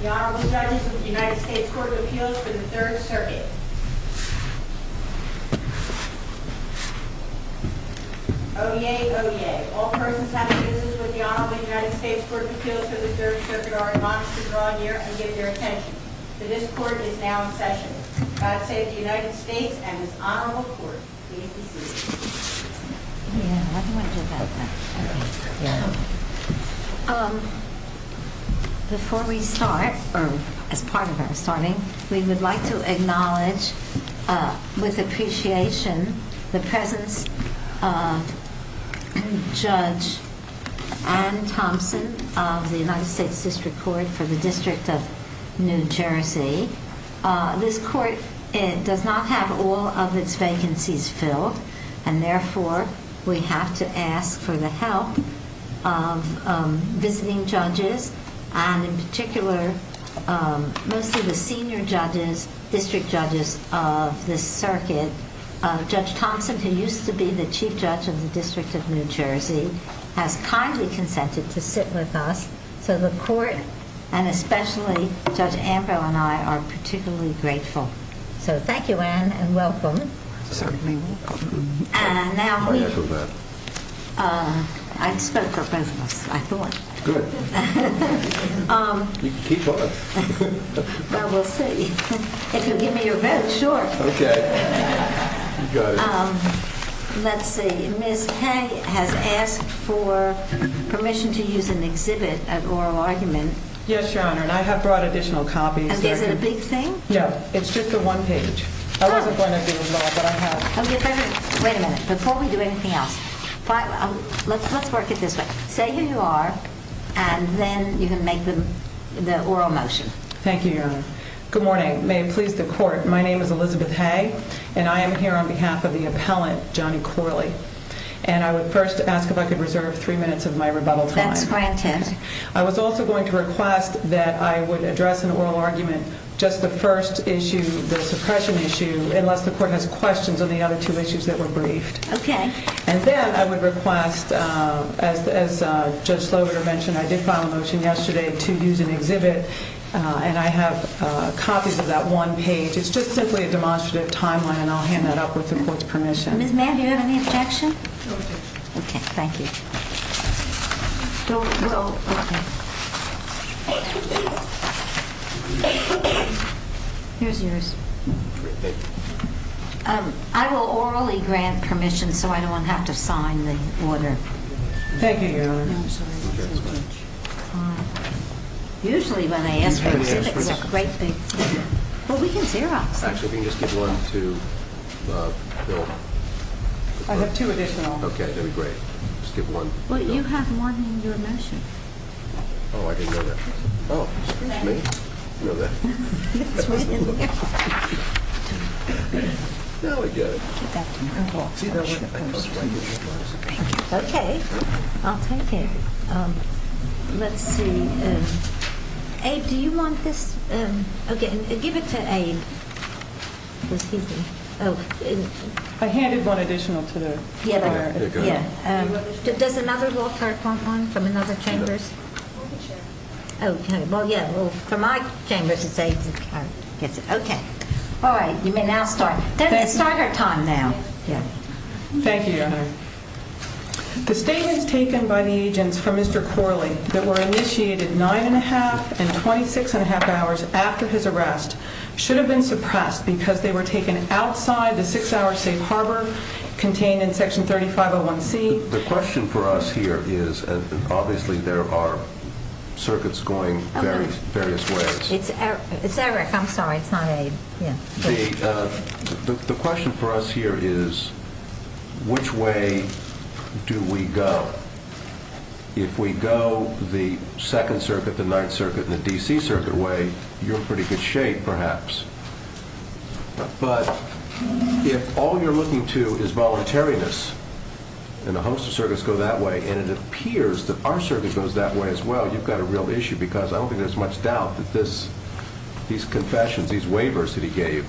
The Honorable Judges of the United States Court of Appeals for the Third Circuit. Oyez, oyez. All persons having business with the Honorable United States Court of Appeals for the Third Circuit are admonished to draw near and give their attention. The discord is now in session. God save the United States and this Honorable Court. Before we start, or as part of our starting, we would like to acknowledge with appreciation the presence of Judge Anne Thompson of the United States District Court for the District of New Jersey. This court does not have all of its vacancies filled and therefore we have to ask for the help of visiting judges and in particular most of the senior judges, district judges of this circuit. Judge Thompson, who used to be the Chief Judge of the District of New Jersey, has kindly consented to sit with us so the court and especially Judge Ambrose and I are particularly grateful. So thank you Anne and welcome. Certainly welcome. And now we, I spoke for both of us, I thought. Good. Well we'll see. If you'll give me your vote, sure. Okay. Let's see, Ms. Kay has asked for permission to use an exhibit at oral argument. Yes, Your Honor, and I have brought additional copies. Is it a big thing? No, it's just a one page. Oh. I wasn't going to do that, but I have it. Okay, wait a minute. Before we do anything else, let's work it this way. Say who you are and then you can make the oral motion. Thank you, Your Honor. Good morning. May it please the court, my name is Elizabeth Hay and I am here on behalf of the appellant, Johnny Corley. And I would first ask if I could reserve three minutes of my rebuttal time. That's my intent. I was also going to request that I would address an oral argument, just the first issue, the suppression issue, unless the court has questions on the other two issues that were briefed. Okay. And then I would request, as Judge Slover mentioned, I did file a motion yesterday to use an exhibit and I have copies of that one page. It's just simply a demonstrative timeline and I'll hand that up with the court's permission. Ms. Mann, do you have any objection? No objection. Okay, thank you. Don't, don't, okay. Here's yours. Great, thank you. I will orally grant permission so I don't have to sign the order. Thank you, Your Honor. No, I'm sorry. Usually when I ask for it, it's a great big deal. Well, we can zero it. Actually, we can just give one to Bill. I have two additional. Okay, that would be great. Just give one. Well, you have one in your motion. Oh, I didn't know that. Oh, me? I didn't know that. Now I get it. Okay, I'll take it. Abe, do you want this? Okay, give it to Abe. Excuse me. Oh. I handed one additional today. Yeah, I heard. Yeah. Does another law clerk want one from another chambers? No. Oh, okay. Well, yeah. Well, for my chambers, it's Abe's. I guess. Okay. All right, you may now start. Doesn't it start our time now? Yeah. Thank you, Your Honor. The statements taken by the agents for Mr. Corley that were initiated nine and a half and 26 and a half hours after his arrest should have been suppressed because they were taken outside the six-hour safe harbor contained in Section 3501C. The question for us here is, and obviously there are circuits going various ways. It's Eric. I'm sorry. It's not Abe. Yeah. The question for us here is, which way do we go? If we go the Second Circuit, the Ninth Circuit, and the D.C. Circuit way, you're in pretty good shape, perhaps. But if all you're looking to is voluntariness and a host of circuits go that way, and it appears that our circuit goes that way as well, you've got a real issue because I don't think there's much doubt that these confessions, these waivers that he gave,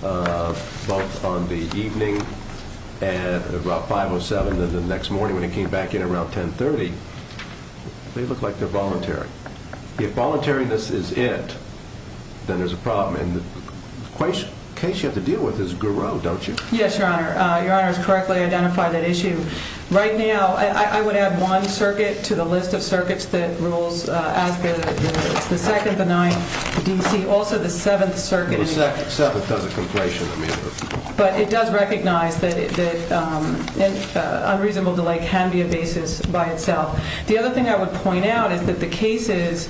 both on the evening at about 5.07 and the next morning when he came back in around 10.30, they look like they're voluntary. If voluntariness is it, then there's a problem. And the case you have to deal with is Garreau, don't you? Yes, Your Honor. Your Honor has correctly identified that issue. Right now, I would add one circuit to the list of circuits that rules as the Second, the Ninth, the D.C., also the Seventh Circuit. But it does recognize that unreasonable delay can be a basis by itself. The other thing I would point out is that the cases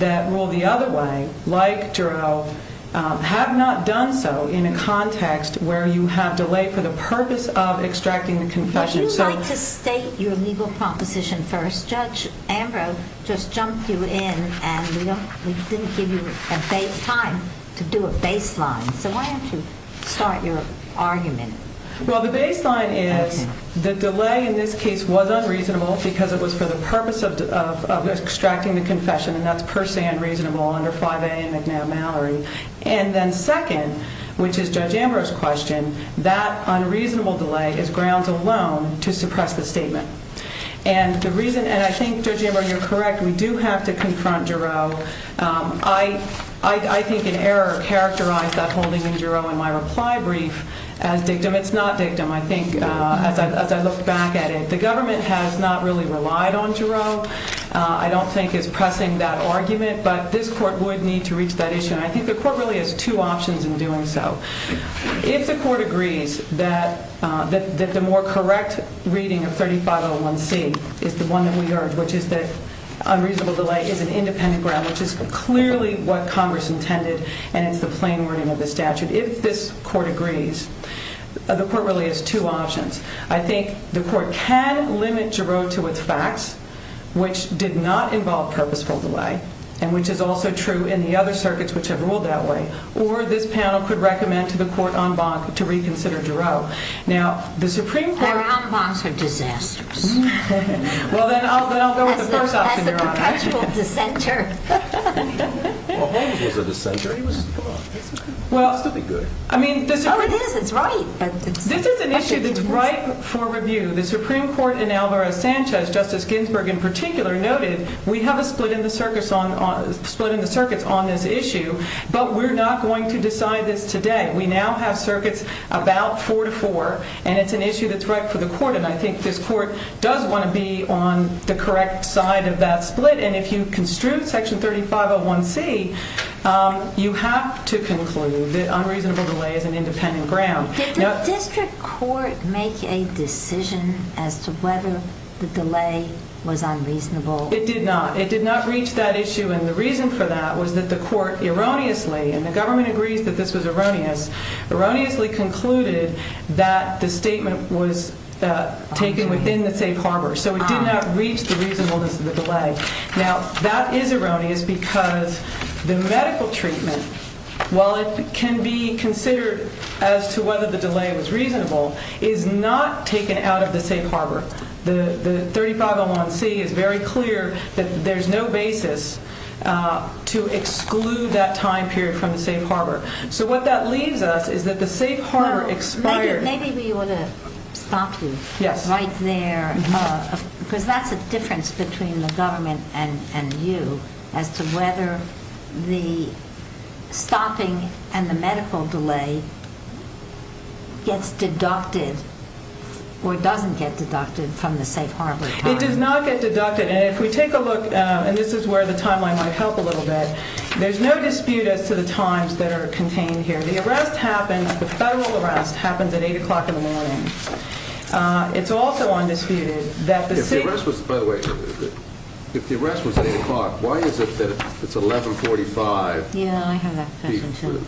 that rule the other way, like Garreau, have not done so in a context where you have delay for the purpose of extracting the confession. Would you like to state your legal proposition first? Judge Ambrose just jumped you in and we didn't give you time to do a baseline. So why don't you start your argument? Well, the baseline is the delay in this case was unreasonable because it was for the purpose of extracting the confession, and that's per se unreasonable under 5A and McNabb-Mallory. And then second, which is Judge Ambrose's question, that unreasonable delay is grounds alone to suppress the statement. And the reason, and I think Judge Ambrose, you're correct, we do have to confront Garreau. I think an error characterized that holding in Garreau in my reply brief as dictum. It's not dictum. I think as I look back at it, the government has not really relied on Garreau. I don't think it's pressing that argument, but this court would need to reach that issue. And I think the court really has two options in doing so. If the court agrees that the more correct reading of 3501C is the one that we urge, which is that unreasonable delay is an independent ground, which is clearly what Congress intended and it's the plain wording of the statute. If this court agrees, the court really has two options. I think the court can limit Garreau to its facts, which did not involve purposeful delay, and which is also true in the other circuits which have ruled that way. Or this panel could recommend to the court en banc to reconsider Garreau. Our en bancs are disasters. Well, then I'll go with the first option, Your Honor. That's the perpetual dissenter. Well, Holmes was a dissenter. He was good. Well, I mean, this is an issue that's ripe for review. The Supreme Court in Alvarez-Sanchez, Justice Ginsburg in particular, noted we have a split in the circuits on this issue, but we're not going to decide this today. We now have circuits about four to four, and it's an issue that's ripe for the court, and I think this court does want to be on the correct side of that split, and if you construe Section 3501C, you have to conclude that unreasonable delay is an independent ground. Did the district court make a decision as to whether the delay was unreasonable? It did not. It did not reach that issue, and the reason for that was that the court erroneously, and the government agrees that this was erroneous, erroneously concluded that the statement was taken within the safe harbor, so it did not reach the reasonableness of the delay. Now, that is erroneous because the medical treatment, while it can be considered as to whether the delay was reasonable, is not taken out of the safe harbor. The 3501C is very clear that there's no basis to exclude that time period from the safe harbor, so what that leaves us is that the safe harbor expired. Maybe we ought to stop you right there, because that's the difference between the government and you as to whether the stopping and the medical delay gets deducted or doesn't get deducted from the safe harbor time. It does not get deducted, and if we take a look, and this is where the timeline might help a little bit, there's no dispute as to the times that are contained here. The arrest happens, the federal arrest happens at 8 o'clock in the morning. It's also undisputed that the city... If the arrest was, by the way, if the arrest was at 8 o'clock, why is it that it's 1145? Yeah, I have that question too.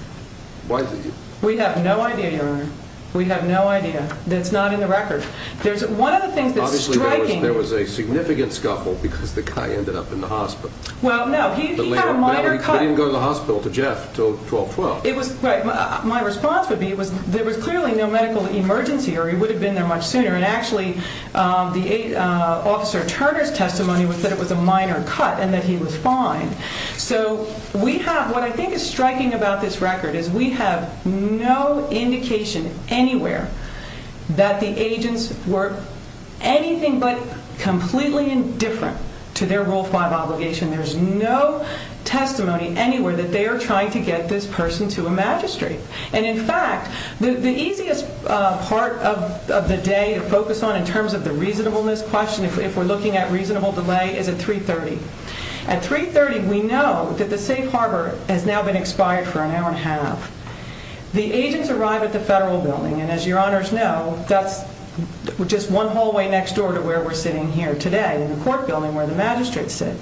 Why is it... We have no idea, Your Honor. We have no idea. That's not in the record. One of the things that's striking... Obviously, there was a significant scuffle because the guy ended up in the hospital. Well, no, he had a minor cut... He couldn't go to the hospital to Jeff until 12-12. My response would be there was clearly no medical emergency or he would have been there much sooner, and actually, Officer Turner's testimony was that it was a minor cut and that he was fine. So what I think is striking about this record is we have no indication anywhere that the agents were anything but completely indifferent to their Rule 5 obligation. There's no testimony anywhere that they are trying to get this person to a magistrate. And, in fact, the easiest part of the day to focus on in terms of the reasonableness question, if we're looking at reasonable delay, is at 3.30. At 3.30, we know that the safe harbor has now been expired for an hour and a half. The agents arrive at the federal building, and as your honors know, that's just one hallway next door to where we're sitting here today, in the court building where the magistrates sit.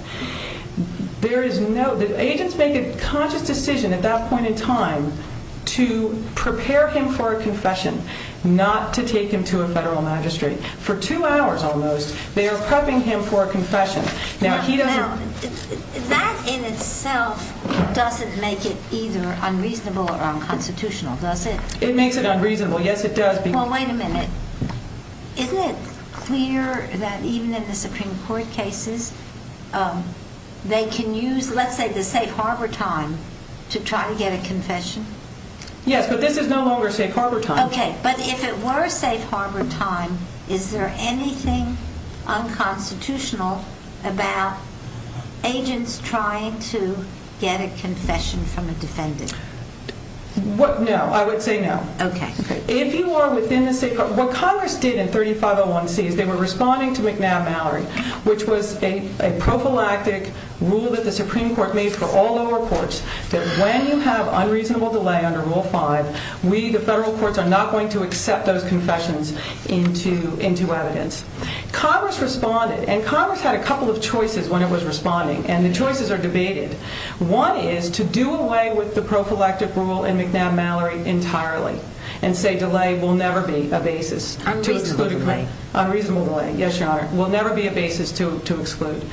There is no... The agents make a conscious decision at that point in time to prepare him for a confession, not to take him to a federal magistrate. For two hours, almost, they are prepping him for a confession. Now, that in itself doesn't make it either unreasonable or unconstitutional, does it? It makes it unreasonable. Yes, it does. Well, wait a minute. Isn't it clear that even in the Supreme Court cases, they can use, let's say, the safe harbor time to try to get a confession? Yes, but this is no longer safe harbor time. Okay, but if it were safe harbor time, is there anything unconstitutional about agents trying to get a confession from a defendant? No, I would say no. If you are within the safe harbor... What Congress did in 3501C is they were responding to McNabb-Mallory, which was a prophylactic rule that the Supreme Court made for all lower courts that when you have unreasonable delay under Rule 5, we, the federal courts, are not going to accept those confessions into evidence. Congress responded, and Congress had a couple of choices when it was responding, and the choices are debated. One is to do away with the prophylactic rule in McNabb-Mallory entirely and say delay will never be a basis to exclude. Unreasonable delay. Unreasonable delay, yes, Your Honor. Will never be a basis to exclude.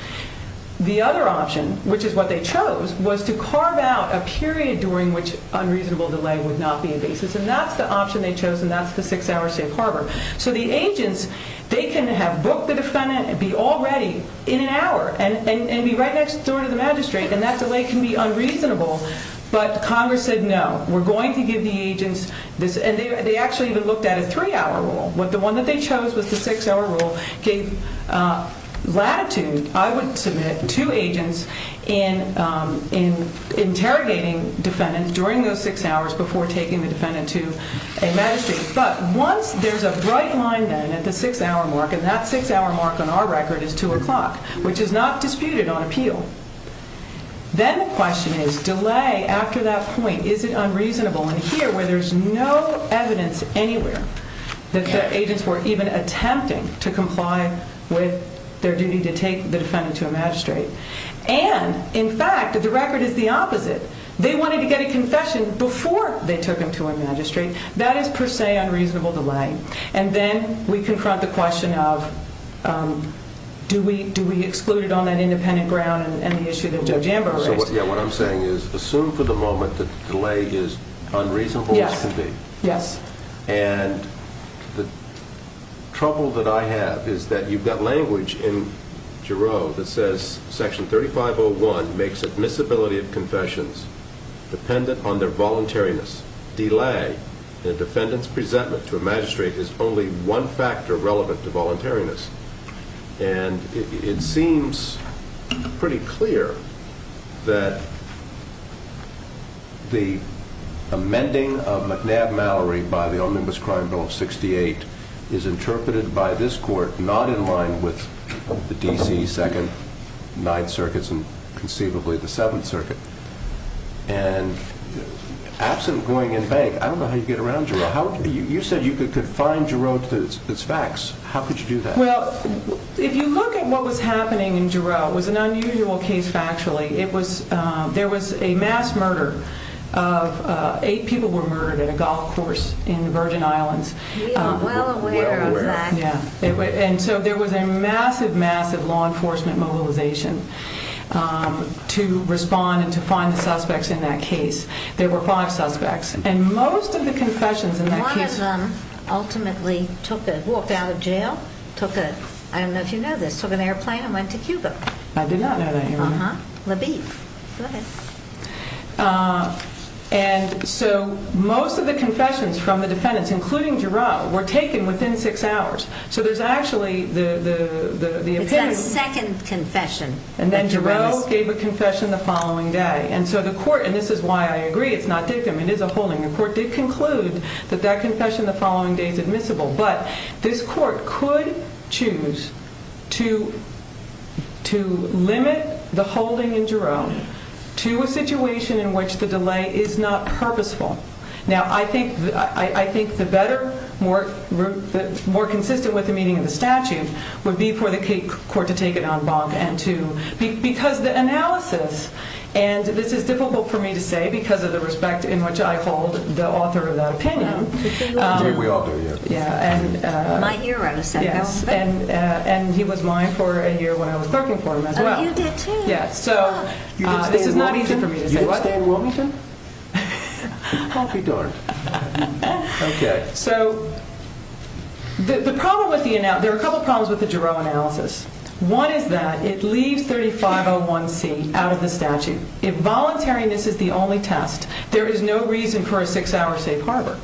The other option, which is what they chose, was to carve out a period during which unreasonable delay would not be a basis, and that's the option they chose, and that's the six-hour safe harbor. So the agents, they can have booked the defendant and be all ready in an hour and be right next door to the magistrate, and that delay can be unreasonable, but Congress said no, we're going to give the agents... And they actually even looked at a three-hour rule. The one that they chose was the six-hour rule, gave latitude. I would submit to agents in interrogating defendants during those six hours before taking the defendant to a magistrate, but once there's a bright line then at the six-hour mark, and that six-hour mark on our record is 2 o'clock, which is not disputed on appeal, then the question is, delay after that point, is it unreasonable? And here, where there's no evidence anywhere that the agents were even attempting to comply with their duty to take the defendant to a magistrate, and, in fact, the record is the opposite. They wanted to get a confession before they took him to a magistrate. That is, per se, unreasonable delay. And then we confront the question of, do we exclude it on that independent ground and the issue that Joe Jambo raised? So what I'm saying is, assume for the moment that the delay is unreasonable as can be. Yes. Yes. And the trouble that I have is that you've got language in Jarreau that says Section 3501 makes admissibility of confessions dependent on their voluntariness. Delay in a defendant's presentment to a magistrate is only one factor relevant to voluntariness. And it seems pretty clear that the amending of McNabb-Mallory by the Omnibus Crime Bill of 68 is interpreted by this Court not in line with the D.C. Second, Ninth Circuits, and conceivably the Seventh Circuit. And absent going in vague, I don't know how you get around Jarreau. You said you could confine Jarreau to its facts. How could you do that? Well, if you look at what was happening in Jarreau, it was an unusual case factually. There was a mass murder. Eight people were murdered at a golf course We are well aware of that. And so there was a massive, massive law enforcement mobilization to respond and to find the suspects in that case. There were five suspects. And most of the confessions in that case... One of them ultimately took a... walked out of jail, took a... I don't know if you know this, took an airplane and went to Cuba. I did not know that, Your Honor. Uh-huh. Labib. Go ahead. And so most of the confessions from the defendants, including Jarreau, were taken within six hours. So there's actually the... It's that second confession. And then Jarreau gave a confession the following day. And so the court, and this is why I agree, it's not dictum, it is a holding. The court did conclude that that confession the following day is admissible. But this court could choose to... to limit the holding in Jarreau to a situation in which the delay is not purposeful. Now, I think the better... more consistent with the meaning of the statute would be for the court to take it on bond and to... because the analysis, and this is difficult for me to say because of the respect in which I hold the author of that opinion. We all do, yeah. Yeah, and... Might you run a second? Yes, and he was mine for a year when I was working for him as well. Oh, you did too? Yeah, so... You did stay in Wilmington? This is not easy for me to say. You did stay in Wilmington? I'll be darned. Okay. So the problem with the... Now, there are a couple problems with the Jarreau analysis. One is that it leaves 3501C out of the statute. If voluntariness is the only test, there is no reason for a six-hour safe harbor.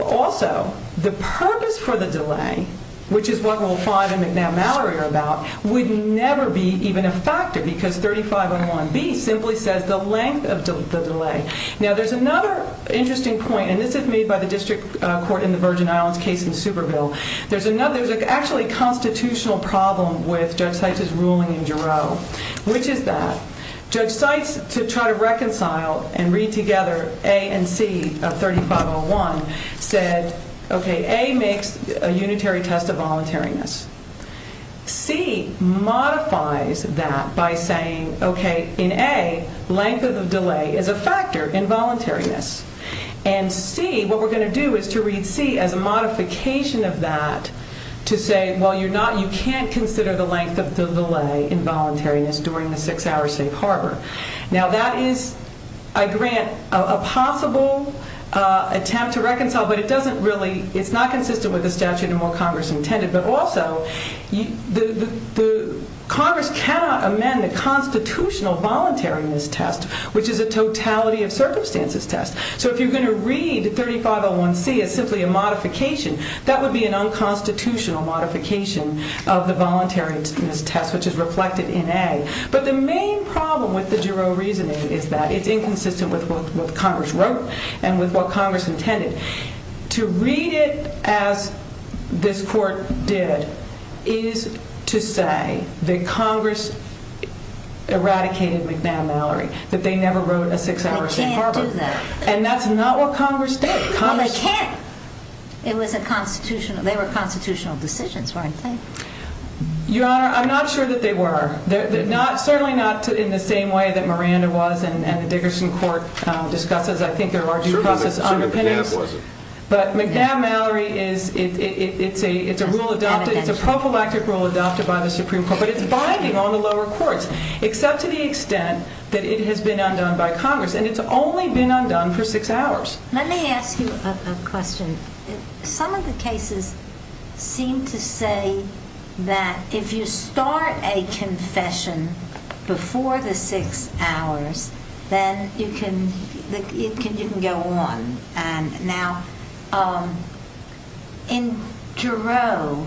Also, the purpose for the delay, which is what Rule 5 and McNabb-Mallory are about, would never be even a factor because 3501B simply says the length of the delay. Now, there's another interesting point, and this is made by the district court in the Virgin Islands case in Superville. There's another... There's actually a constitutional problem with Judge Seitz's ruling in Jarreau, which is that Judge Seitz, to try to reconcile and read together A and C of 3501, said, okay, A makes a unitary test of voluntariness. C modifies that by saying, okay, in A, length of the delay is a factor in voluntariness. And C, what we're going to do is to read C as a modification of that to say, well, you're not... You can't consider the length of the delay in voluntariness during the six-hour safe harbor. Now, that is, I grant, a possible attempt to reconcile, but it doesn't really... It's not consistent with the statute and what Congress intended, but also the Congress cannot amend the constitutional voluntariness test, which is a totality of circumstances test. So if you're going to read 3501C as simply a modification, that would be an unconstitutional modification of the voluntariness test, which is reflected in A. But the main problem with the Jarreau reasoning is that it's inconsistent with what Congress wrote and with what Congress intended. To read it as this court did is to say that Congress eradicated McNamara, that they never wrote a six-hour safe harbor. They can't do that. And that's not what Congress did. Well, they can't. It was a constitutional... They were constitutional decisions, weren't they? Your Honor, I'm not sure that they were. Certainly not in the same way that Miranda was and the Dickerson court discusses, I think, their larger process underpinnings. But McNamara is... It's a rule adopted. It's a prophylactic rule adopted by the Supreme Court, but it's binding on the lower courts, except to the extent that it has been undone by Congress, and it's only been undone for six hours. Let me ask you a question. Some of the cases seem to say that if you start a confession before the six hours, then you can go on. Now, in Jarreau,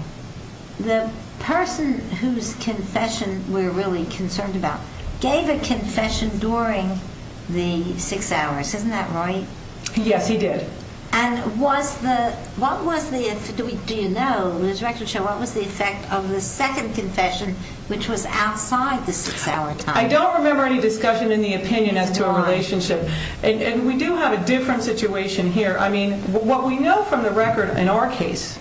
the person whose confession we're really concerned about gave a confession during the six hours. Isn't that right? Yes, he did. And what was the... Do you know? What was the effect of the second confession, which was outside the six-hour time? I don't remember any discussion in the opinion as to a relationship. And we do have a different situation here. I mean, what we know from the record in our case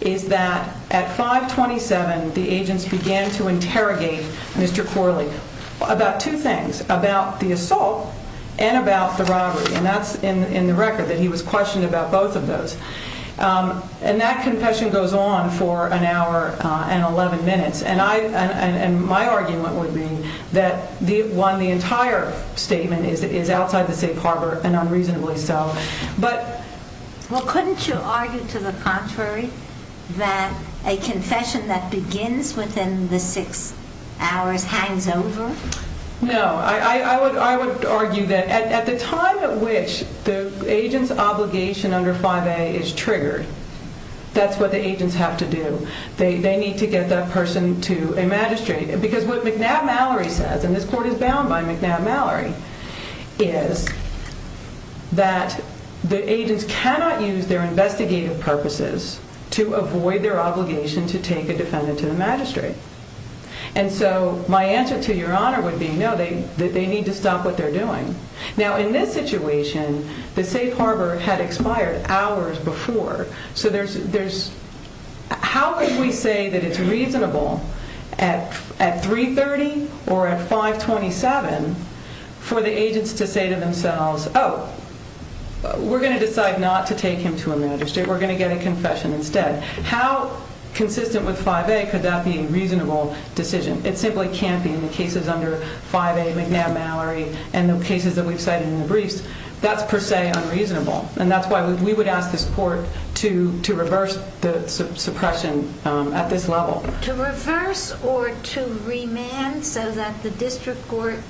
is that at 5.27, the agents began to interrogate Mr. Corley about two things, about the assault and about the robbery. And that's in the record, that he was questioned about both of those. And that confession goes on for an hour and 11 minutes. And my argument would be that, one, the entire statement is outside the safe harbor, and unreasonably so. Well, couldn't you argue to the contrary that a confession that begins within the six hours hangs over? No, I would argue that at the time at which the agent's obligation under 5A is triggered, that's what the agents have to do. They need to get that person to a magistrate. Because what McNabb-Mallory says, and this court is bound by McNabb-Mallory, is that the agents cannot use their investigative purposes to avoid their obligation to take a defendant to the magistrate. And so my answer to Your Honor would be, no, they need to stop what they're doing. Now, in this situation, the safe harbor had expired hours before. So there's... How could we say that it's reasonable at 3.30 or at 5.27 for the agents to say to themselves, oh, we're going to decide not to take him to a magistrate. We're going to get a confession instead. How consistent with 5A could that be a reasonable decision? It simply can't be in the cases under 5A McNabb-Mallory and the cases that we've cited in the briefs. That's per se unreasonable. And that's why we would ask this court to reverse the suppression at this level. To reverse or to remand so that the district court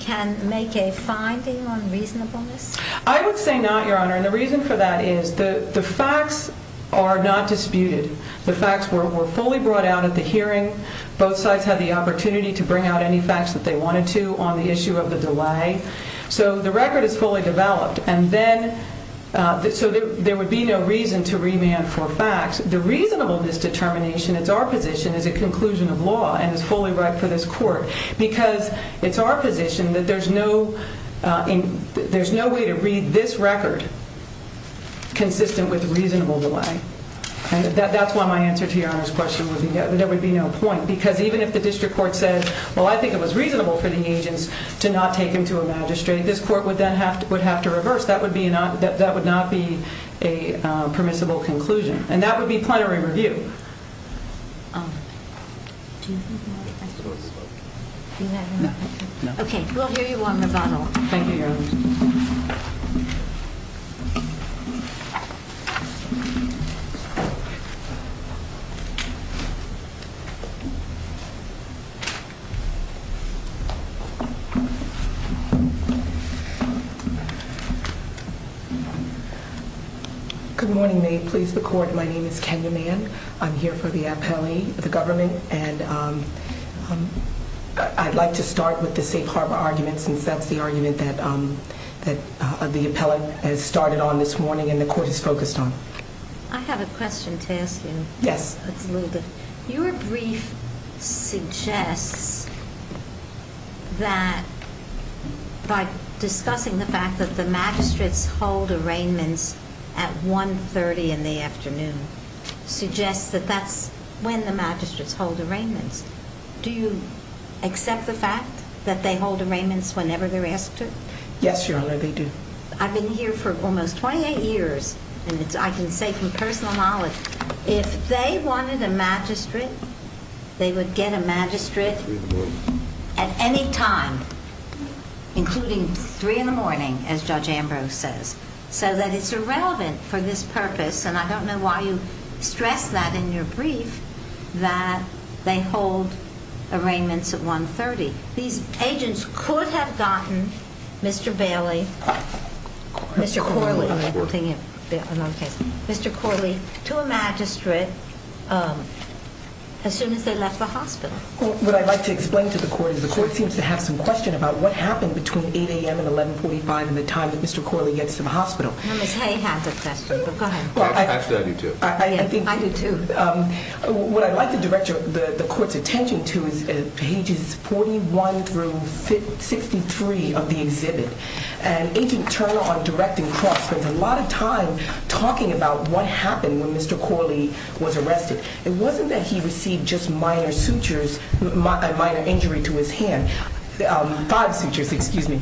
can make a finding on reasonableness? I would say not, Your Honor. And the reason for that is the facts are not disputed. The facts were fully brought out at the hearing. Both sides had the opportunity to bring out any facts that they wanted to on the issue of the delay. So the record is fully developed. And then... So there would be no reason to remand for facts. The reasonableness determination, it's our position, is a conclusion of law and is fully ripe for this court. Because it's our position that there's no... There's no way to read this record consistent with reasonable delay. That's why my answer to Your Honor's question would be that there would be no point. Because even if the district court said, well, I think it was reasonable for the agents to not take him to a magistrate, this court would then have to reverse. That would not be a permissible conclusion. And that would be plenary review. Okay, we'll give you one more bottle. Good morning. May it please the court. My name is Kenya Mann. I'm here for the appellee, the government. And I'd like to start with the safe harbor argument since that's the argument that the appellate has started on this morning and the court is focused on. I have a question to ask you. Yes. Your brief suggests that... by discussing the fact that the magistrates hold arraignments at 1.30 in the afternoon suggests that that's when the magistrates hold arraignments. Do you accept the fact that they hold arraignments whenever they're asked to? Yes, Your Honor, they do. I've been here for almost 28 years. And I can say from personal knowledge if they wanted a magistrate, they would get a magistrate at any time, including 3 in the morning, as Judge Ambrose says, so that it's irrelevant for this purpose. And I don't know why you stress that in your brief that they hold arraignments at 1.30. These agents could have gotten Mr. Bailey, Mr. Corley, to a magistrate as soon as they left the hospital. What I'd like to explain to the court is the court seems to have some question about what happened between 8 a.m. and 11.45 in the time that Mr. Corley gets to the hospital. No, Ms. Hay has a question, but go ahead. Actually, I do, too. I do, too. What I'd like to direct the court's attention to is pages 41 through 63 of the exhibit. And Agent Turner on directing cross spends a lot of time talking about what happened when Mr. Corley was arrested. It wasn't that he received just minor sutures, a minor injury to his hand. Five sutures, excuse me.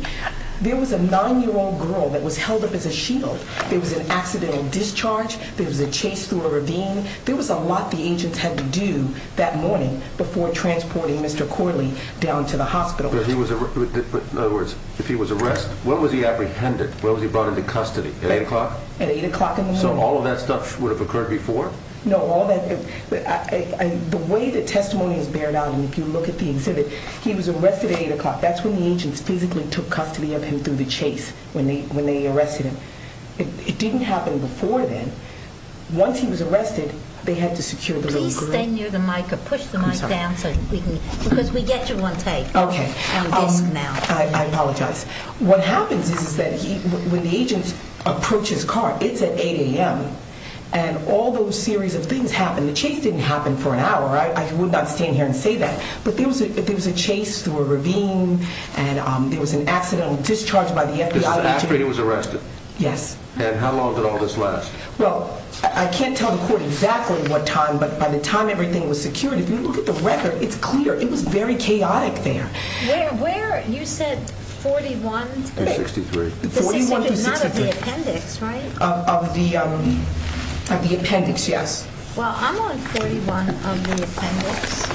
There was a 9-year-old girl that was held up as a shield. There was an accidental discharge. There was a chase through a ravine. There was a lot the agents had to do that morning before transporting Mr. Corley down to the hospital. In other words, if he was arrested, what was he apprehended? At 8 o'clock? At 8 o'clock in the morning. So all of that stuff would have occurred before? No, all that... The way the testimony is bared out, and if you look at the exhibit, he was arrested at 8 o'clock. That's when the agents physically took custody of him through the chase when they arrested him. It didn't happen before then. Once he was arrested, they had to secure the little group. Please stay near the mic or push the mic down because we get you on tape. Okay. I apologize. What happens is that when the agents approach his car, it's at 8 a.m., and all those series of things happen. The chase didn't happen for an hour. I would not stand here and say that. But there was a chase through a ravine, and there was an accidental discharge by the FBI. This is after he was arrested? Yes. And how long did all this last? Well, I can't tell the court exactly what time, but by the time everything was secured, if you look at the record, it's clear. It was very chaotic there. Where? You said 41 to 63. 41 to 63. This is not of the appendix, right? Of the appendix, yes. Well, I'm on 41 of the appendix.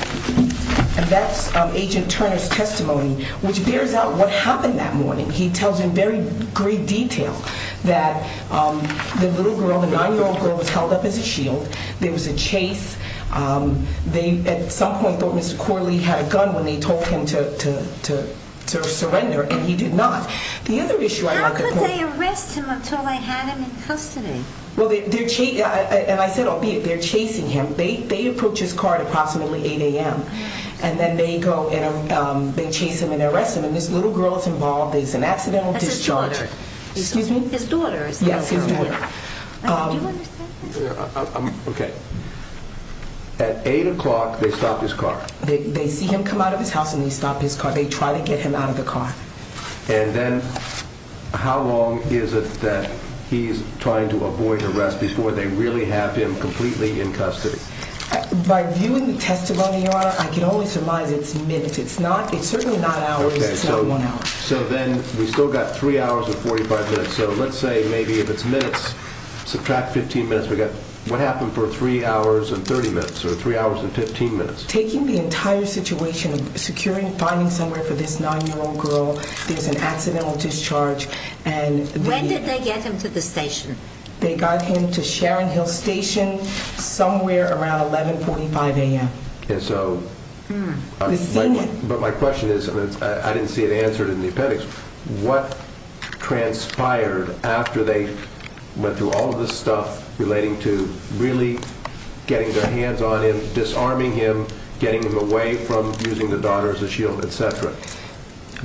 And that's Agent Turner's testimony, which bears out what happened that morning. He tells in very great detail that the little girl, the 9-year-old girl, was held up as a shield. There was a chase. They at some point thought Mr. Corley had a gun when they told him to surrender, and he did not. How could they arrest him until they had him in custody? And I said, albeit, they're chasing him. They approach his car at approximately 8 a.m., and then they chase him and arrest him, and this little girl is involved. There's an accidental discharge. That's his daughter. Excuse me? His daughter. Yes, his daughter. Do you understand? Okay. At 8 o'clock, they stop his car. They see him come out of his house, and they stop his car. They try to get him out of the car. And then how long is it that he's trying to avoid arrest before they really have him completely in custody? By viewing the testimony, Your Honor, I can only surmise it's minutes. It's certainly not hours. It's not one hour. So then we've still got 3 hours and 45 minutes. So let's say maybe if it's minutes, subtract 15 minutes, we've got what happened for 3 hours and 30 minutes or 3 hours and 15 minutes? Taking the entire situation, finding somewhere for this 9-year-old girl. There's an accidental discharge. When did they get him to the station? They got him to Sharon Hill Station somewhere around 11.45 a.m. And so my question is, and I didn't see it answered in the appendix, what transpired after they went through all of this stuff relating to really getting their hands on him, disarming him, getting him away from using the daughter as a shield, etc.?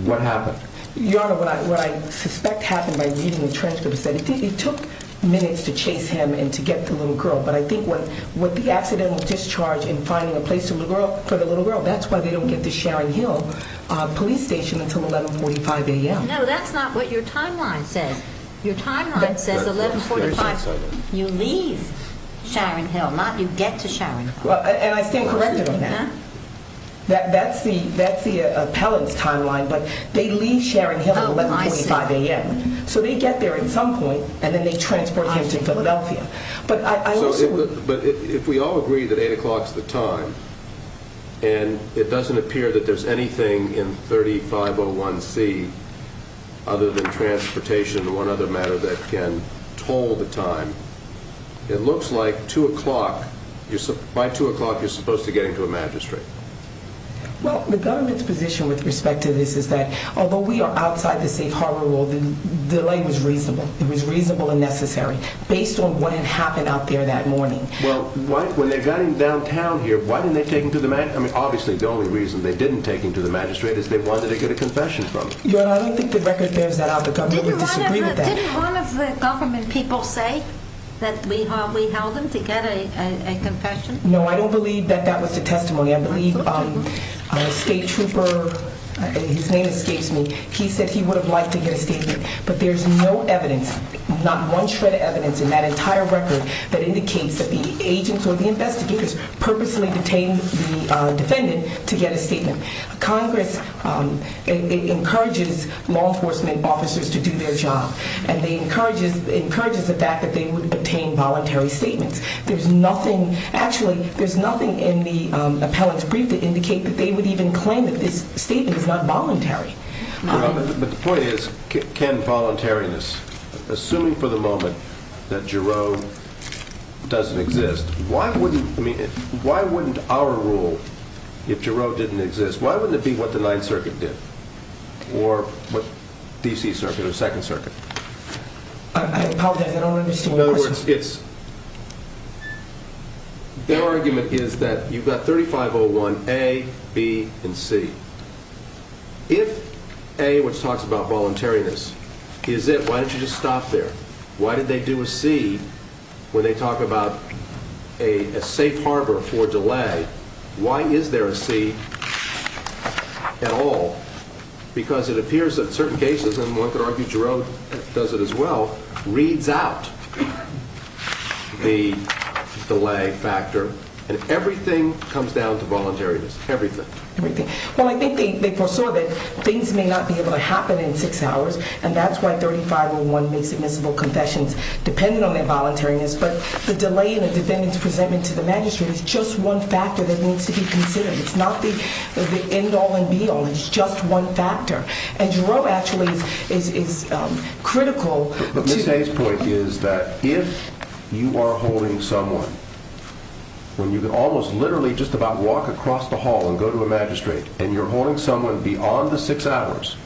What happened? Your Honor, what I suspect happened by reading the transcript is that it took minutes to chase him and to get the little girl. But I think with the accidental discharge and finding a place for the little girl, that's why they don't get to Sharon Hill Police Station until 11.45 a.m. No, that's not what your timeline says. Your timeline says 11.45. You leave Sharon Hill, not you get to Sharon Hill. And I stand corrected on that. That's the appellant's timeline, but they leave Sharon Hill at 11.45 a.m. So they get there at some point, and then they transport him to Philadelphia. But if we all agree that 8 o'clock's the time, and it doesn't appear that there's anything in 3501C other than transportation or one other matter that can toll the time, it looks like by 2 o'clock you're supposed to get into a magistrate. Well, the government's position with respect to this is that although we are outside the safe harbor rule, the delay was reasonable. It was reasonable and necessary based on what had happened out there that morning. Well, when they got him downtown here, why didn't they take him to the magistrate? I mean, obviously the only reason they didn't take him to the magistrate is they wanted to get a confession from him. Your Honor, I don't think the record bears that out. The government would disagree with that. Didn't one of the government people say that we held him to get a confession? No, I don't believe that that was the testimony. I believe a state trooper, his name escapes me, he said he would have liked to get a statement. But there's no evidence, not one shred of evidence in that entire record that indicates that the agents or the investigators purposely detained the defendant to get a statement. Congress encourages law enforcement officers to do their job. And it encourages the fact that they would obtain voluntary statements. There's nothing, actually, there's nothing in the appellant's brief to indicate that they would even claim that this statement is not voluntary. But the point is, can voluntariness, assuming for the moment that Jarreau doesn't exist, why wouldn't our rule, if Jarreau didn't exist, why wouldn't it be what the Ninth Circuit did? Or what, D.C. Circuit or Second Circuit? I apologize, I don't understand your question. In other words, it's... Their argument is that you've got 3501A, B, and C. If A, which talks about voluntariness, is it, why don't you just stop there? Why did they do a C when they talk about a safe harbor for delay? And why is there a C at all? Because it appears that certain cases, and one could argue Jarreau does it as well, reads out the delay factor, and everything comes down to voluntariness, everything. Well, I think they foresaw that things may not be able to happen in six hours, and that's why 3501B, submissible confessions, depended on their voluntariness. But the delay in a defendant's presentment to the magistrate is just one factor that needs to be considered. It's not the end-all and be-all. It's just one factor. And Jarreau actually is critical to... But Ms. Hayes' point is that if you are holding someone, when you can almost literally just about walk across the hall and go to a magistrate, and you're holding someone beyond the six hours,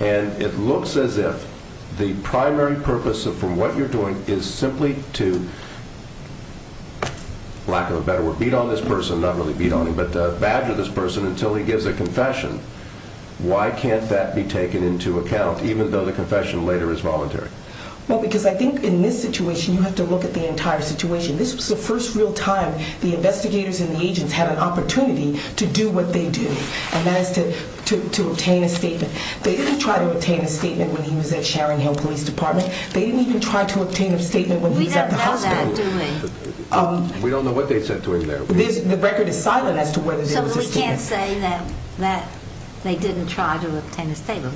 and it looks as if the primary purpose for what you're doing is simply to, lack of a better word, beat on this person. Not really beat on him, but badger this person until he gives a confession. Why can't that be taken into account, even though the confession later is voluntary? Well, because I think in this situation you have to look at the entire situation. This was the first real time the investigators and the agents had an opportunity to do what they do, and that is to obtain a statement. They didn't try to obtain a statement when he was at Sharon Hill Police Department. They didn't even try to obtain a statement when he was at the hospital. We don't know that, do we? We don't know what they said to him there. The record is silent as to whether there was a statement. So we can't say that they didn't try to obtain a statement.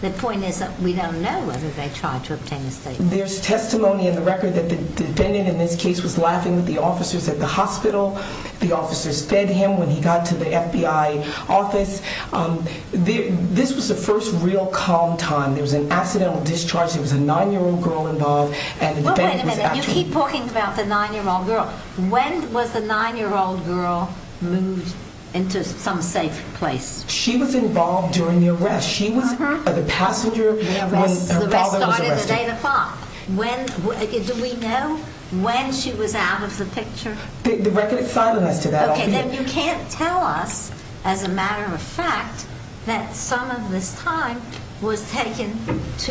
The point is that we don't know whether they tried to obtain a statement. There's testimony in the record that the defendant in this case was laughing with the officers at the hospital. The officers fed him when he got to the FBI office. This was the first real calm time. There was an accidental discharge. There was a 9-year-old girl involved. Wait a minute. You keep talking about the 9-year-old girl. When was the 9-year-old girl moved into some safe place? She was involved during the arrest. She was the passenger when her father was arrested. The arrest started at 8 o'clock. Do we know when she was out of the picture? The record is silent as to that. Then you can't tell us, as a matter of fact, that some of this time was taken to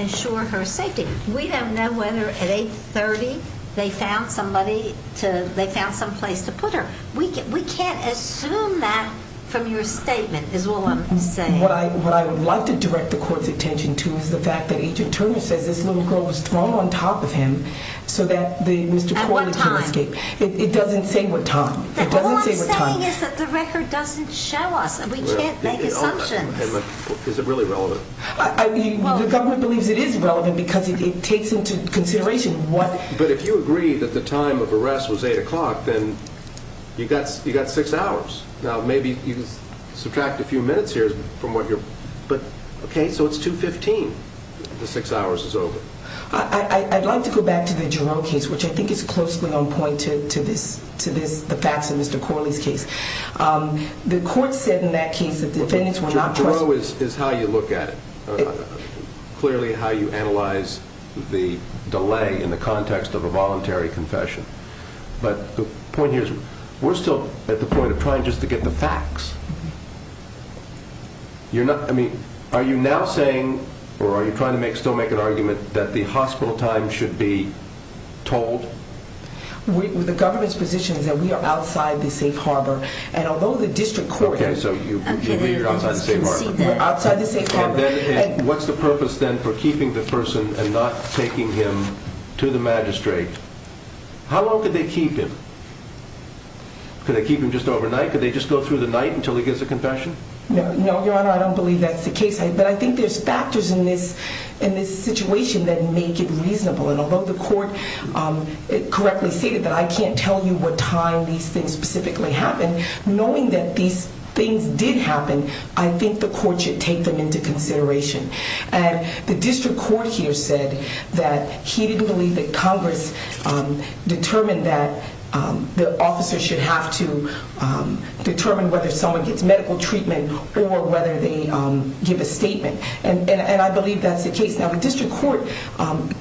ensure her safety. We don't know whether at 8.30 they found some place to put her. We can't assume that from your statement is all I'm saying. What I would like to direct the court's attention to is the fact that Agent Turner says this little girl was thrown on top of him so that Mr. Corley couldn't escape. At what time? It doesn't say what time. All I'm saying is that the record doesn't show us. We can't make assumptions. Is it really relevant? The government believes it is relevant because it takes into consideration what... But if you agree that the time of arrest was 8 o'clock, then you've got six hours. Maybe you subtract a few minutes here from what you're... Okay, so it's 2.15. The six hours is over. I'd like to go back to the Jerome case, which I think is closely on point to the facts in Mr. Corley's case. The court said in that case that defendants were not... Jerome is how you look at it, clearly how you analyze the delay in the context of a voluntary confession. But the point here is we're still at the point of trying just to get the facts. Are you now saying or are you trying to still make an argument that the hospital time should be told? The government's position is that we are outside the safe harbor, and although the district court... Okay, so you believe you're outside the safe harbor. We're outside the safe harbor. What's the purpose, then, for keeping the person and not taking him to the magistrate? How long could they keep him? Could they keep him just overnight? Could they just go through the night until he gets a confession? No, Your Honor, I don't believe that's the case. But I think there's factors in this situation that make it reasonable. And although the court correctly stated that I can't tell you what time these things specifically happened, knowing that these things did happen, I think the court should take them into consideration. And the district court here said that he didn't believe that Congress determined that the officer should have to determine whether someone gets medical treatment or whether they give a statement. And I believe that's the case. Now, the district court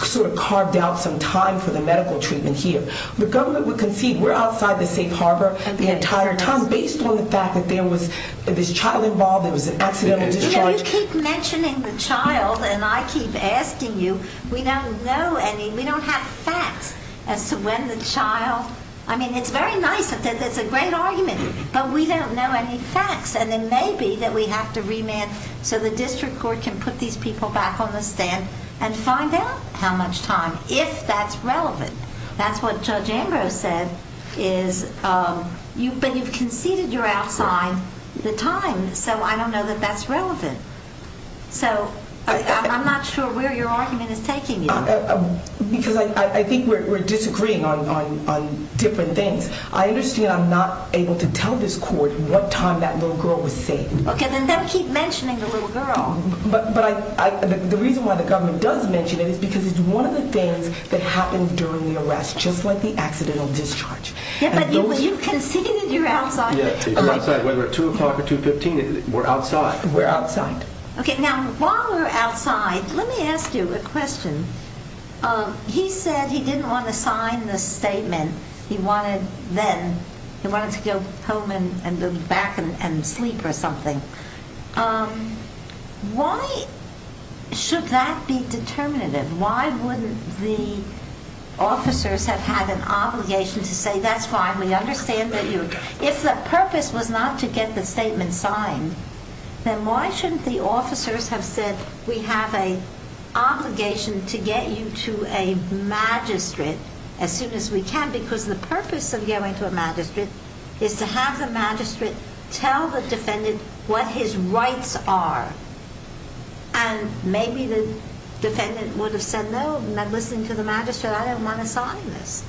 sort of carved out some time for the medical treatment here. The government would concede we're outside the safe harbor the entire time based on the fact that there was this child involved, there was an accidental discharge... You know, you keep mentioning the child, and I keep asking you. We don't know any... We don't have facts as to when the child... I mean, it's very nice that there's a great argument, but we don't know any facts. And it may be that we have to remand so the district court can put these people back on the stand and find out how much time, if that's relevant. That's what Judge Ambrose said is... But you've conceded you're outside the time, so I don't know that that's relevant. So I'm not sure where your argument is taking you. Because I think we're disagreeing on different things. I understand I'm not able to tell this court what time that little girl was saved. Okay, then don't keep mentioning the little girl. But the reason why the government does mention it is because it's one of the things that happened during the arrest, just like the accidental discharge. Yeah, but you've conceded you're outside. Yeah, we're outside. Whether it's 2 o'clock or 2.15, we're outside. We're outside. Okay, now, while we're outside, let me ask you a question. He said he didn't want to sign the statement. He wanted to go home and go back and sleep or something. Why should that be determinative? Why wouldn't the officers have had an obligation to say, that's fine, we understand that you... If the purpose was not to get the statement signed, then why shouldn't the officers have said, we have an obligation to get you to a magistrate as soon as we can because the purpose of going to a magistrate is to have the magistrate tell the defendant what his rights are. And maybe the defendant would have said, no, I'm not listening to the magistrate, I don't want to sign this.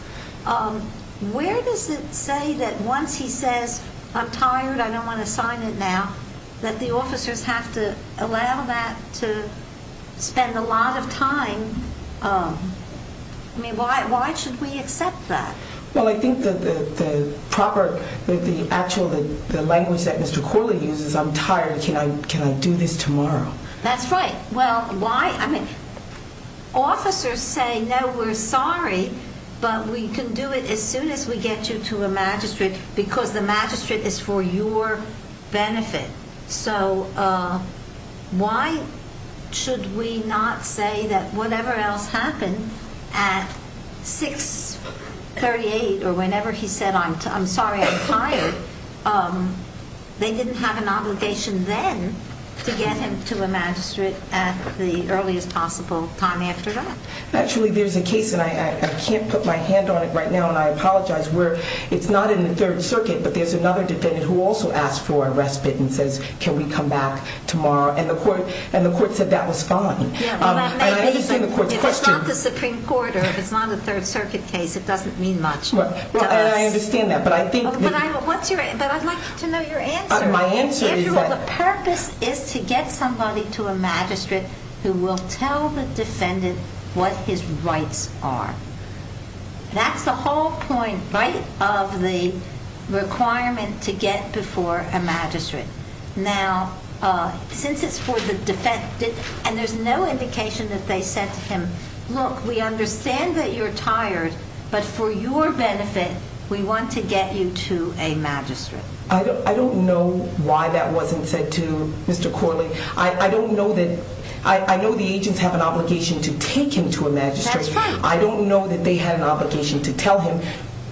Where does it say that once he says, I'm tired, I don't want to sign it now, that the officers have to allow that to spend a lot of time... I mean, why should we accept that? Well, I think that the proper... The actual language that Mr. Corley uses, I'm tired, can I do this tomorrow? That's right. Well, why... Officers say, no, we're sorry, but we can do it as soon as we get you to a magistrate because the magistrate is for your benefit. So why should we not say that whatever else happened at 6.38 or whenever he said, I'm sorry, I'm tired, they didn't have an obligation then to get him to a magistrate at the earliest possible time after that? Actually, there's a case, and I can't put my hand on it right now, and I apologize, where it's not in the Third Circuit, but there's another defendant who also asked for a respite and says, can we come back tomorrow? And the court said that was fine. And I understand the court's question. If it's not the Supreme Court or if it's not a Third Circuit case, it doesn't mean much to us. Well, I understand that, but I think... But I'd like to know your answer. My answer is that... The purpose is to get somebody to a magistrate who will tell the defendant what his rights are. That's the whole point, right, of the requirement to get before a magistrate. Now, since it's for the defendant, and there's no indication that they said to him, look, we understand that you're tired, but for your benefit, we want to get you to a magistrate. I don't know why that wasn't said to, Mr. Corley. I don't know that... I know the agents have an obligation to take him to a magistrate. That's right. I don't know that they had an obligation to tell him...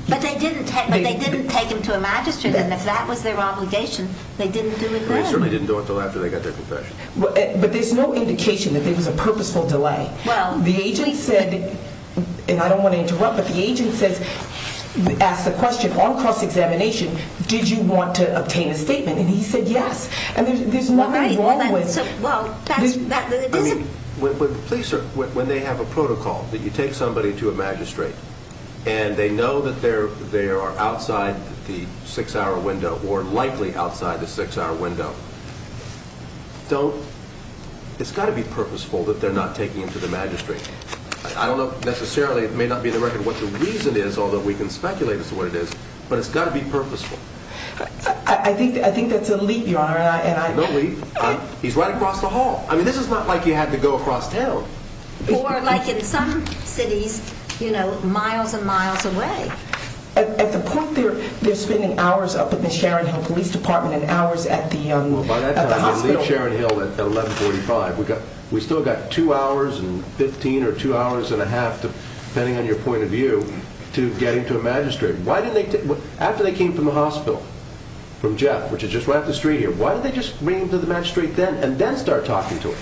But they didn't take him to a magistrate, and if that was their obligation, they didn't do it then. They certainly didn't do it until after they got their confession. But there's no indication that there was a purposeful delay. Well... The agent said, and I don't want to interrupt, but the agent asked the question on cross-examination, did you want to obtain a statement? And he said yes. And there's nothing wrong with... Well, that's... Please, sir, when they have a protocol that you take somebody to a magistrate and they know that they are outside the six-hour window, or likely outside the six-hour window, don't... It's got to be purposeful that they're not taking him to the magistrate. I don't know necessarily, it may not be in the record, what the reason is, although we can speculate as to what it is, but it's got to be purposeful. I think that's a leap, Your Honor, and I... No leap. He's right across the hall. I mean, this is not like you had to go across town. Or like in some cities, you know, miles and miles away. At the point they're spending hours up at the Sharon Hill Police Department and hours at the hospital... Well, by that time they leave Sharon Hill at 11.45. We've still got two hours and 15 or two hours and a half, depending on your point of view, to get him to a magistrate. Why didn't they... After they came from the hospital, from Jeff, which is just right up the street here, why didn't they just bring him to the magistrate then and then start talking to him?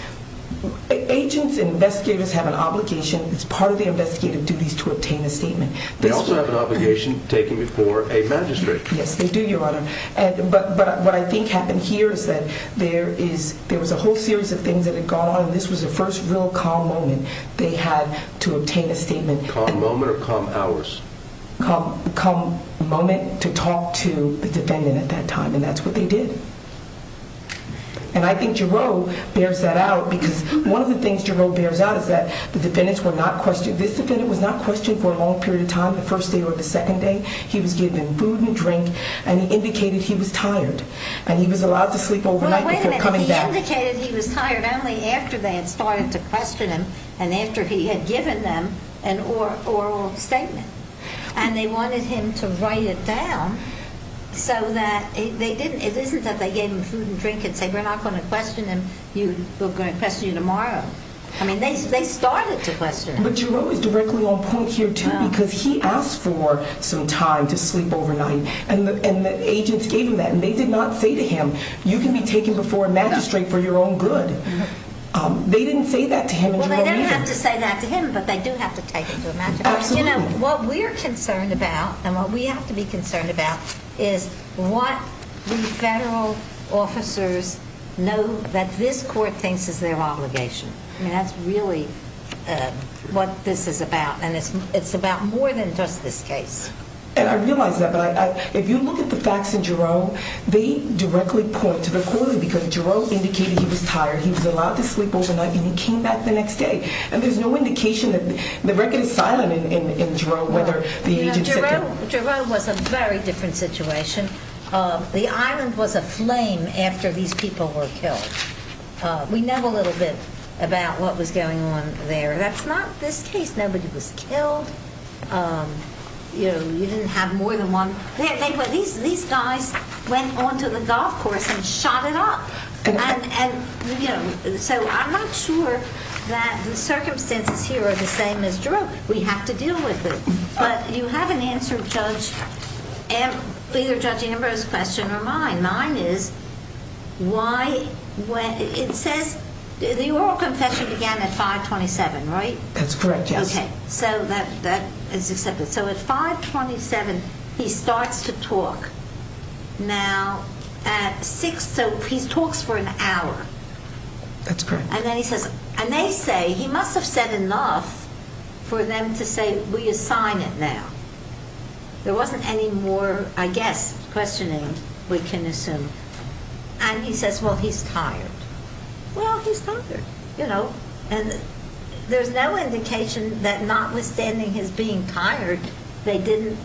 Agents and investigators have an obligation. It's part of the investigative duties to obtain a statement. They also have an obligation taking before a magistrate. Yes, they do, Your Honor. But what I think happened here is that there was a whole series of things that had gone on, and this was the first real calm moment they had to obtain a statement. Calm moment or calm hours? Calm moment to talk to the defendant at that time, and that's what they did. And I think Jarreau bears that out because one of the things Jarreau bears out is that the defendants were not questioned. This defendant was not questioned for a long period of time, the first day or the second day. He was given food and drink, and he indicated he was tired, and he was allowed to sleep overnight before coming back. Well, wait a minute. He indicated he was tired only after they had started to question him and after he had given them an oral statement, and they wanted him to write it down so that they didn't... It isn't that they gave him food and drink and said, We're not going to question him. We're going to question you tomorrow. I mean, they started to question him. But Jarreau is directly on point here too because he asked for some time to sleep overnight, and the agents gave him that, and they did not say to him, You can be taken before a magistrate for your own good. They didn't say that to him in Jarreau either. Well, they don't have to say that to him, but they do have to take him to a magistrate. Absolutely. What we're concerned about, and what we have to be concerned about, is what the federal officers know that this court thinks is their obligation. I mean, that's really what this is about, and it's about more than just this case. And I realize that, but if you look at the facts in Jarreau, they directly point to the quality because Jarreau indicated he was tired. He was allowed to sleep overnight, and he came back the next day. And there's no indication that the record is silent in Jarreau whether the agents said to him. Jarreau was a very different situation. The island was aflame after these people were killed. We know a little bit about what was going on there. That's not this case. Nobody was killed. You didn't have more than one. These guys went onto the golf course and shot it up. So I'm not sure that the circumstances here are the same as Jarreau. We have to deal with it. But you haven't answered Judge Amber's question or mine. Mine is, it says the oral confession began at 5.27, right? That's correct, yes. Okay, so that is accepted. So at 5.27, he starts to talk. Now, at 6, so he talks for an hour. That's correct. And then he says, and they say, he must have said enough for them to say, we assign it now. There wasn't any more, I guess, questioning, we can assume. And he says, well, he's tired. Well, he's tired. And there's no indication that notwithstanding his being tired, they didn't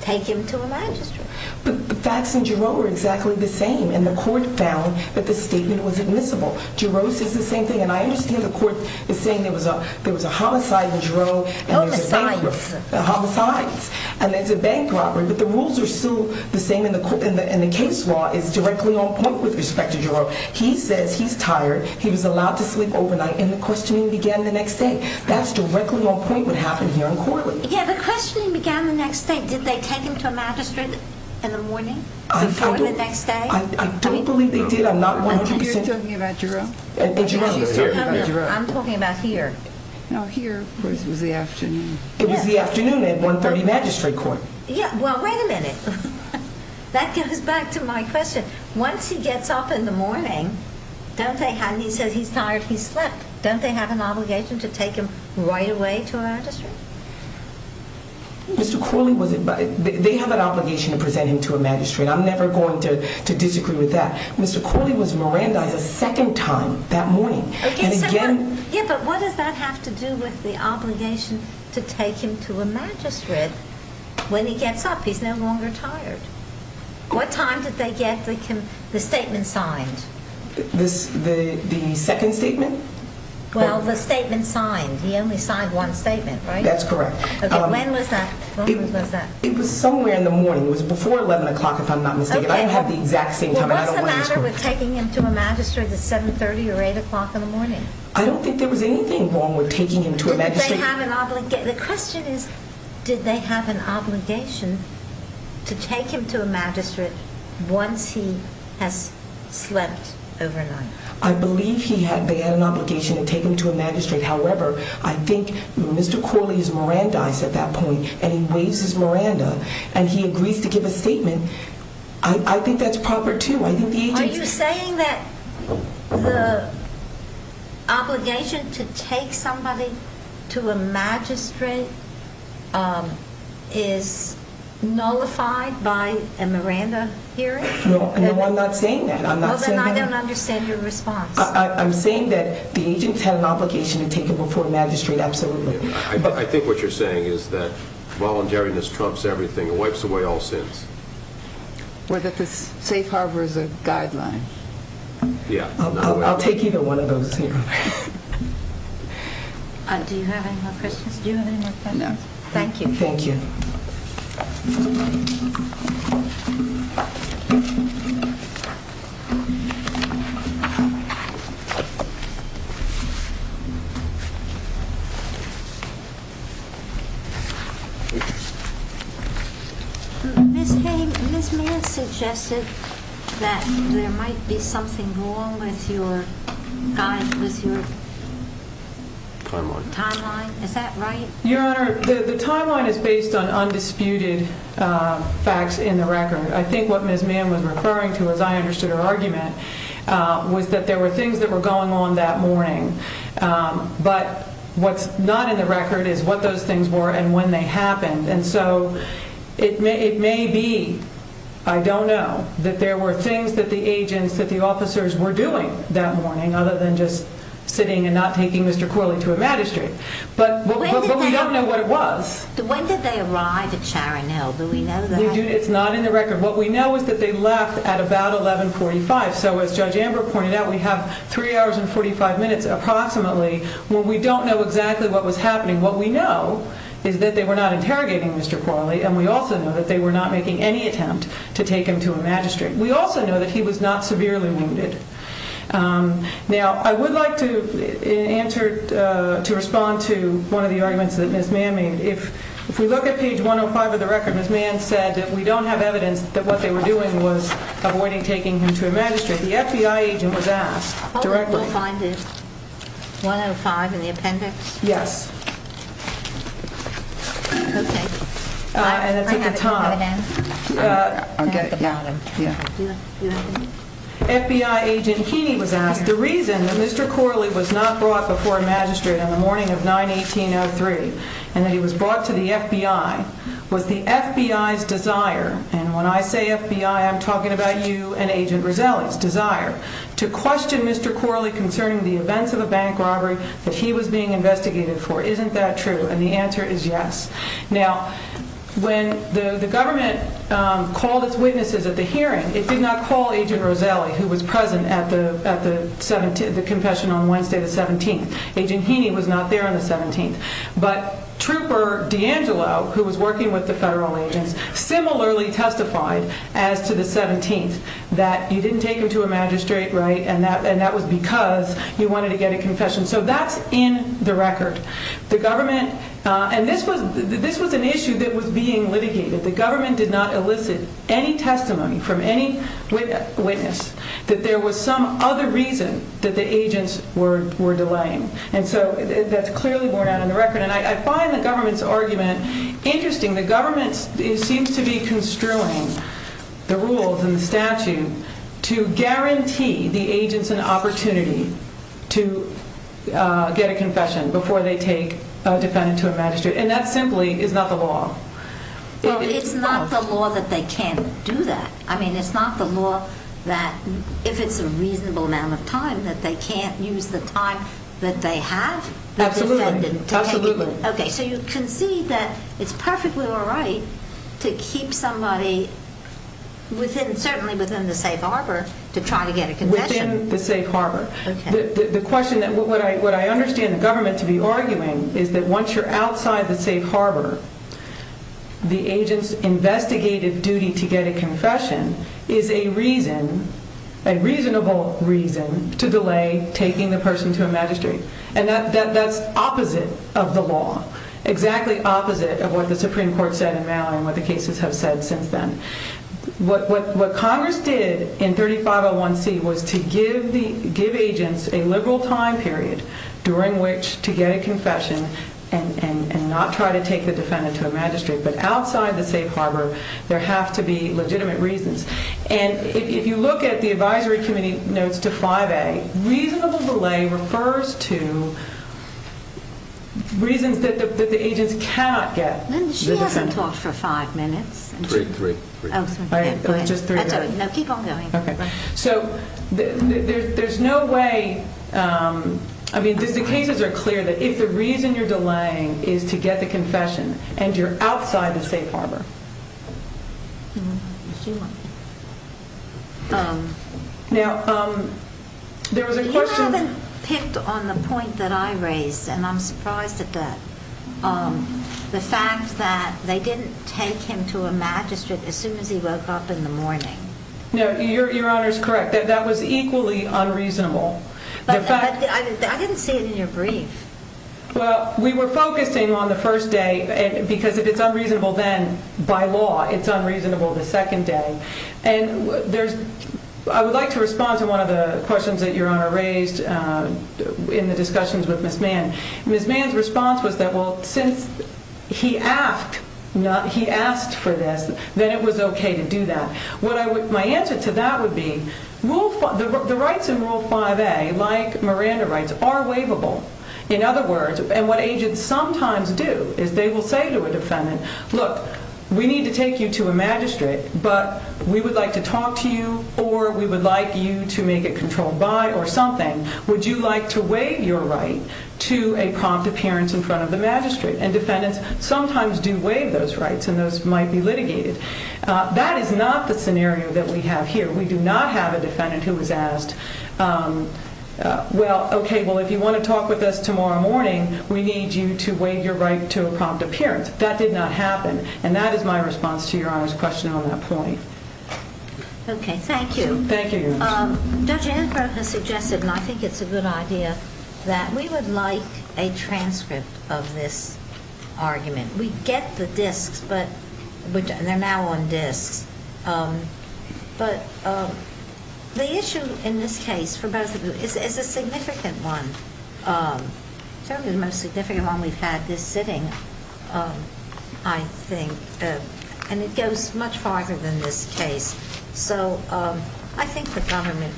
take him to a magistrate. But the facts in Jarreau are exactly the same, and the court found that the statement was admissible. Jarreau says the same thing, and I understand the court is saying there was a homicide in Jarreau. Homicides. Homicides. And it's a bank robbery. But the rules are still the same, and the case law is directly on point with respect to Jarreau. He says he's tired, he was allowed to sleep overnight, and the questioning began the next day. That's directly on point with what happened here in Corley. Yeah, the questioning began the next day. Did they take him to a magistrate in the morning before the next day? I don't believe they did. I'm not 100%. You're talking about Jarreau? I'm talking about here. No, here was the afternoon. It was the afternoon at 130 Magistrate Court. Yeah, well, wait a minute. That goes back to my question. Once he gets up in the morning, and he says he's tired, he slept, don't they have an obligation to take him right away to a magistrate? Mr. Corley was invited. They have an obligation to present him to a magistrate. I'm never going to disagree with that. Mr. Corley was Mirandized a second time that morning. Yeah, but what does that have to do with the obligation to take him to a magistrate? When he gets up, he's no longer tired. What time did they get the statement signed? The second statement? Well, the statement signed. He only signed one statement, right? That's correct. When was that? It was somewhere in the morning. It was before 11 o'clock, if I'm not mistaken. I don't have the exact same time, and I don't want to disagree. What's the matter with taking him to a magistrate at 7.30 or 8 o'clock in the morning? I don't think there was anything wrong with taking him to a magistrate. The question is, did they have an obligation to take him to a magistrate once he has slept overnight? I believe they had an obligation to take him to a magistrate. However, I think Mr. Corley is Mirandized at that point, and he agrees to give a statement. I think that's proper, too. Are you saying that the obligation to take somebody to a magistrate is nullified by a Miranda hearing? No, I'm not saying that. Then I don't understand your response. I'm saying that the agents had an obligation to take him before a magistrate, absolutely. I think what you're saying is that voluntariness trumps everything and wipes away all sins. Or that the safe harbor is a guideline. I'll take either one of those. Do you have any more questions? No. Thank you. Thank you. Ms. Mann suggested that there might be something wrong with your timeline. Is that right? Your Honor, the timeline is based on undisputed facts in the record. I think what Ms. Mann was referring to, as I understood her argument, was that there were things that were going on that morning. But what's not in the record is what those things were and when they happened. And so it may be, I don't know, that there were things that the agents, that the officers, were doing that morning, other than just sitting and not taking Mr. Corley to a magistrate. But we don't know what it was. When did they arrive at Sharon Hill? Do we know that? It's not in the record. What we know is that they left at about 11.45. So as Judge Amber pointed out, we have 3 hours and 45 minutes, approximately, when we don't know exactly what was happening. What we know is that they were not interrogating Mr. Corley and we also know that they were not making any attempt to take him to a magistrate. We also know that he was not severely wounded. Now, I would like to respond to one of the arguments that Ms. Mann made. If we look at page 105 of the record, Ms. Mann said that we don't have evidence that what they were doing was avoiding taking him to a magistrate. The FBI agent was asked directly. Oh, we'll find it. 105 in the appendix? Yes. Okay. And it's at the top. I'll get the bottom, yeah. FBI agent Heaney was asked, The reason that Mr. Corley was not brought before a magistrate on the morning of 9-18-03 and that he was brought to the FBI was the FBI's desire and when I say FBI, I'm talking about you and Agent Roselli's desire to question Mr. Corley concerning the events of a bank robbery that he was being investigated for. Isn't that true? And the answer is yes. Now, when the government called its witnesses at the hearing, it did not call Agent Roselli who was present at the confession on Wednesday the 17th. Agent Heaney was not there on the 17th. But Trooper D'Angelo, who was working with the federal agents, similarly testified as to the 17th that you didn't take him to a magistrate, right, and that was because you wanted to get a confession. So that's in the record. The government, and this was an issue that was being litigated. The government did not elicit any testimony from any witness that there was some other reason that the agents were delaying. And so that's clearly borne out in the record. And I find the government's argument interesting. The government seems to be construing the rules and the statute to guarantee the agents an opportunity to get a confession before they take a defendant to a magistrate, and that simply is not the law. Well, it's not the law that they can't do that. I mean, it's not the law that if it's a reasonable amount of time that they can't use the time that they have. Absolutely, absolutely. Okay, so you concede that it's perfectly all right to keep somebody certainly within the safe harbor to try to get a confession. Within the safe harbor. The question that what I understand the government to be arguing is that once you're outside the safe harbor, the agent's investigative duty to get a confession is a reason, a reasonable reason, to delay taking the person to a magistrate. And that's opposite of the law. Exactly opposite of what the Supreme Court said in Mallory and what the cases have said since then. What Congress did in 3501C was to give agents a liberal time period during which to get a confession and not try to take the defendant to a magistrate. But outside the safe harbor, there have to be legitimate reasons. And if you look at the advisory committee notes to 5A, reasonable delay refers to reasons that the agents cannot get. She hasn't talked for five minutes. Three, three. No, keep on going. So there's no way, I mean, the cases are clear that if the reason you're delaying is to get the confession and you're outside the safe harbor. Now, there was a question. You haven't picked on the point that I raised, and I'm surprised at that, the fact that they didn't take him to a magistrate as soon as he woke up in the morning. No, Your Honor's correct. That was equally unreasonable. I didn't see it in your brief. Well, we were focusing on the first day because if it's unreasonable then, by law, it's unreasonable the second day. And I would like to respond to one of the questions that Your Honor raised in the discussions with Ms. Mann. Ms. Mann's response was that, well, since he asked for this, then it was okay to do that. My answer to that would be the rights in Rule 5A, like Miranda rights, are waivable. In other words, and what agents sometimes do is they will say to a defendant, look, we need to take you to a magistrate, but we would like to talk to you or we would like you to make it controlled by or something. Would you like to waive your right to a prompt appearance in front of the magistrate? And defendants sometimes do waive those rights and those might be litigated. That is not the scenario that we have here. We do not have a defendant who was asked, well, okay, well, if you want to talk with us tomorrow morning, we need you to waive your right to a prompt appearance. That did not happen. And that is my response to Your Honor's question on that point. Okay, thank you. Thank you, Your Honor. Judge Antler has suggested, and I think it's a good idea, that we would like a transcript of this argument. We get the disks, but they're now on disks. But the issue in this case, for both of you, is a significant one, certainly the most significant one we've had this sitting, I think, and it goes much farther than this case. So I think the government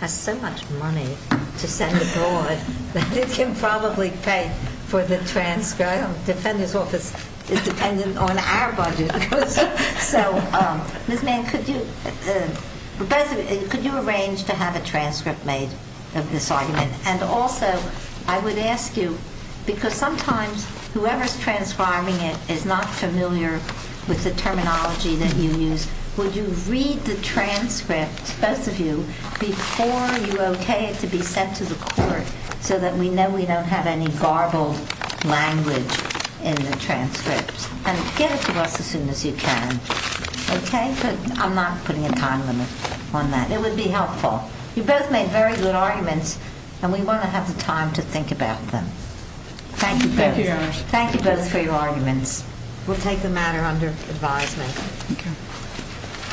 has so much money to send abroad that it can probably pay for the transcript. The defendant's office is dependent on our budget. So, Ms. Mann, could you arrange to have a transcript made of this argument? And also, I would ask you, because sometimes whoever's transcribing it is not familiar with the terminology that you use, would you read the transcript, both of you, before you okay it to be sent to the court so that we know we don't have any garbled language in the transcript? And get it to us as soon as you can, okay? But I'm not putting a time limit on that. It would be helpful. You both made very good arguments, and we want to have the time to think about them. Thank you both. Thank you, Your Honor. Thank you both for your arguments. We'll take the matter under advisement. Okay.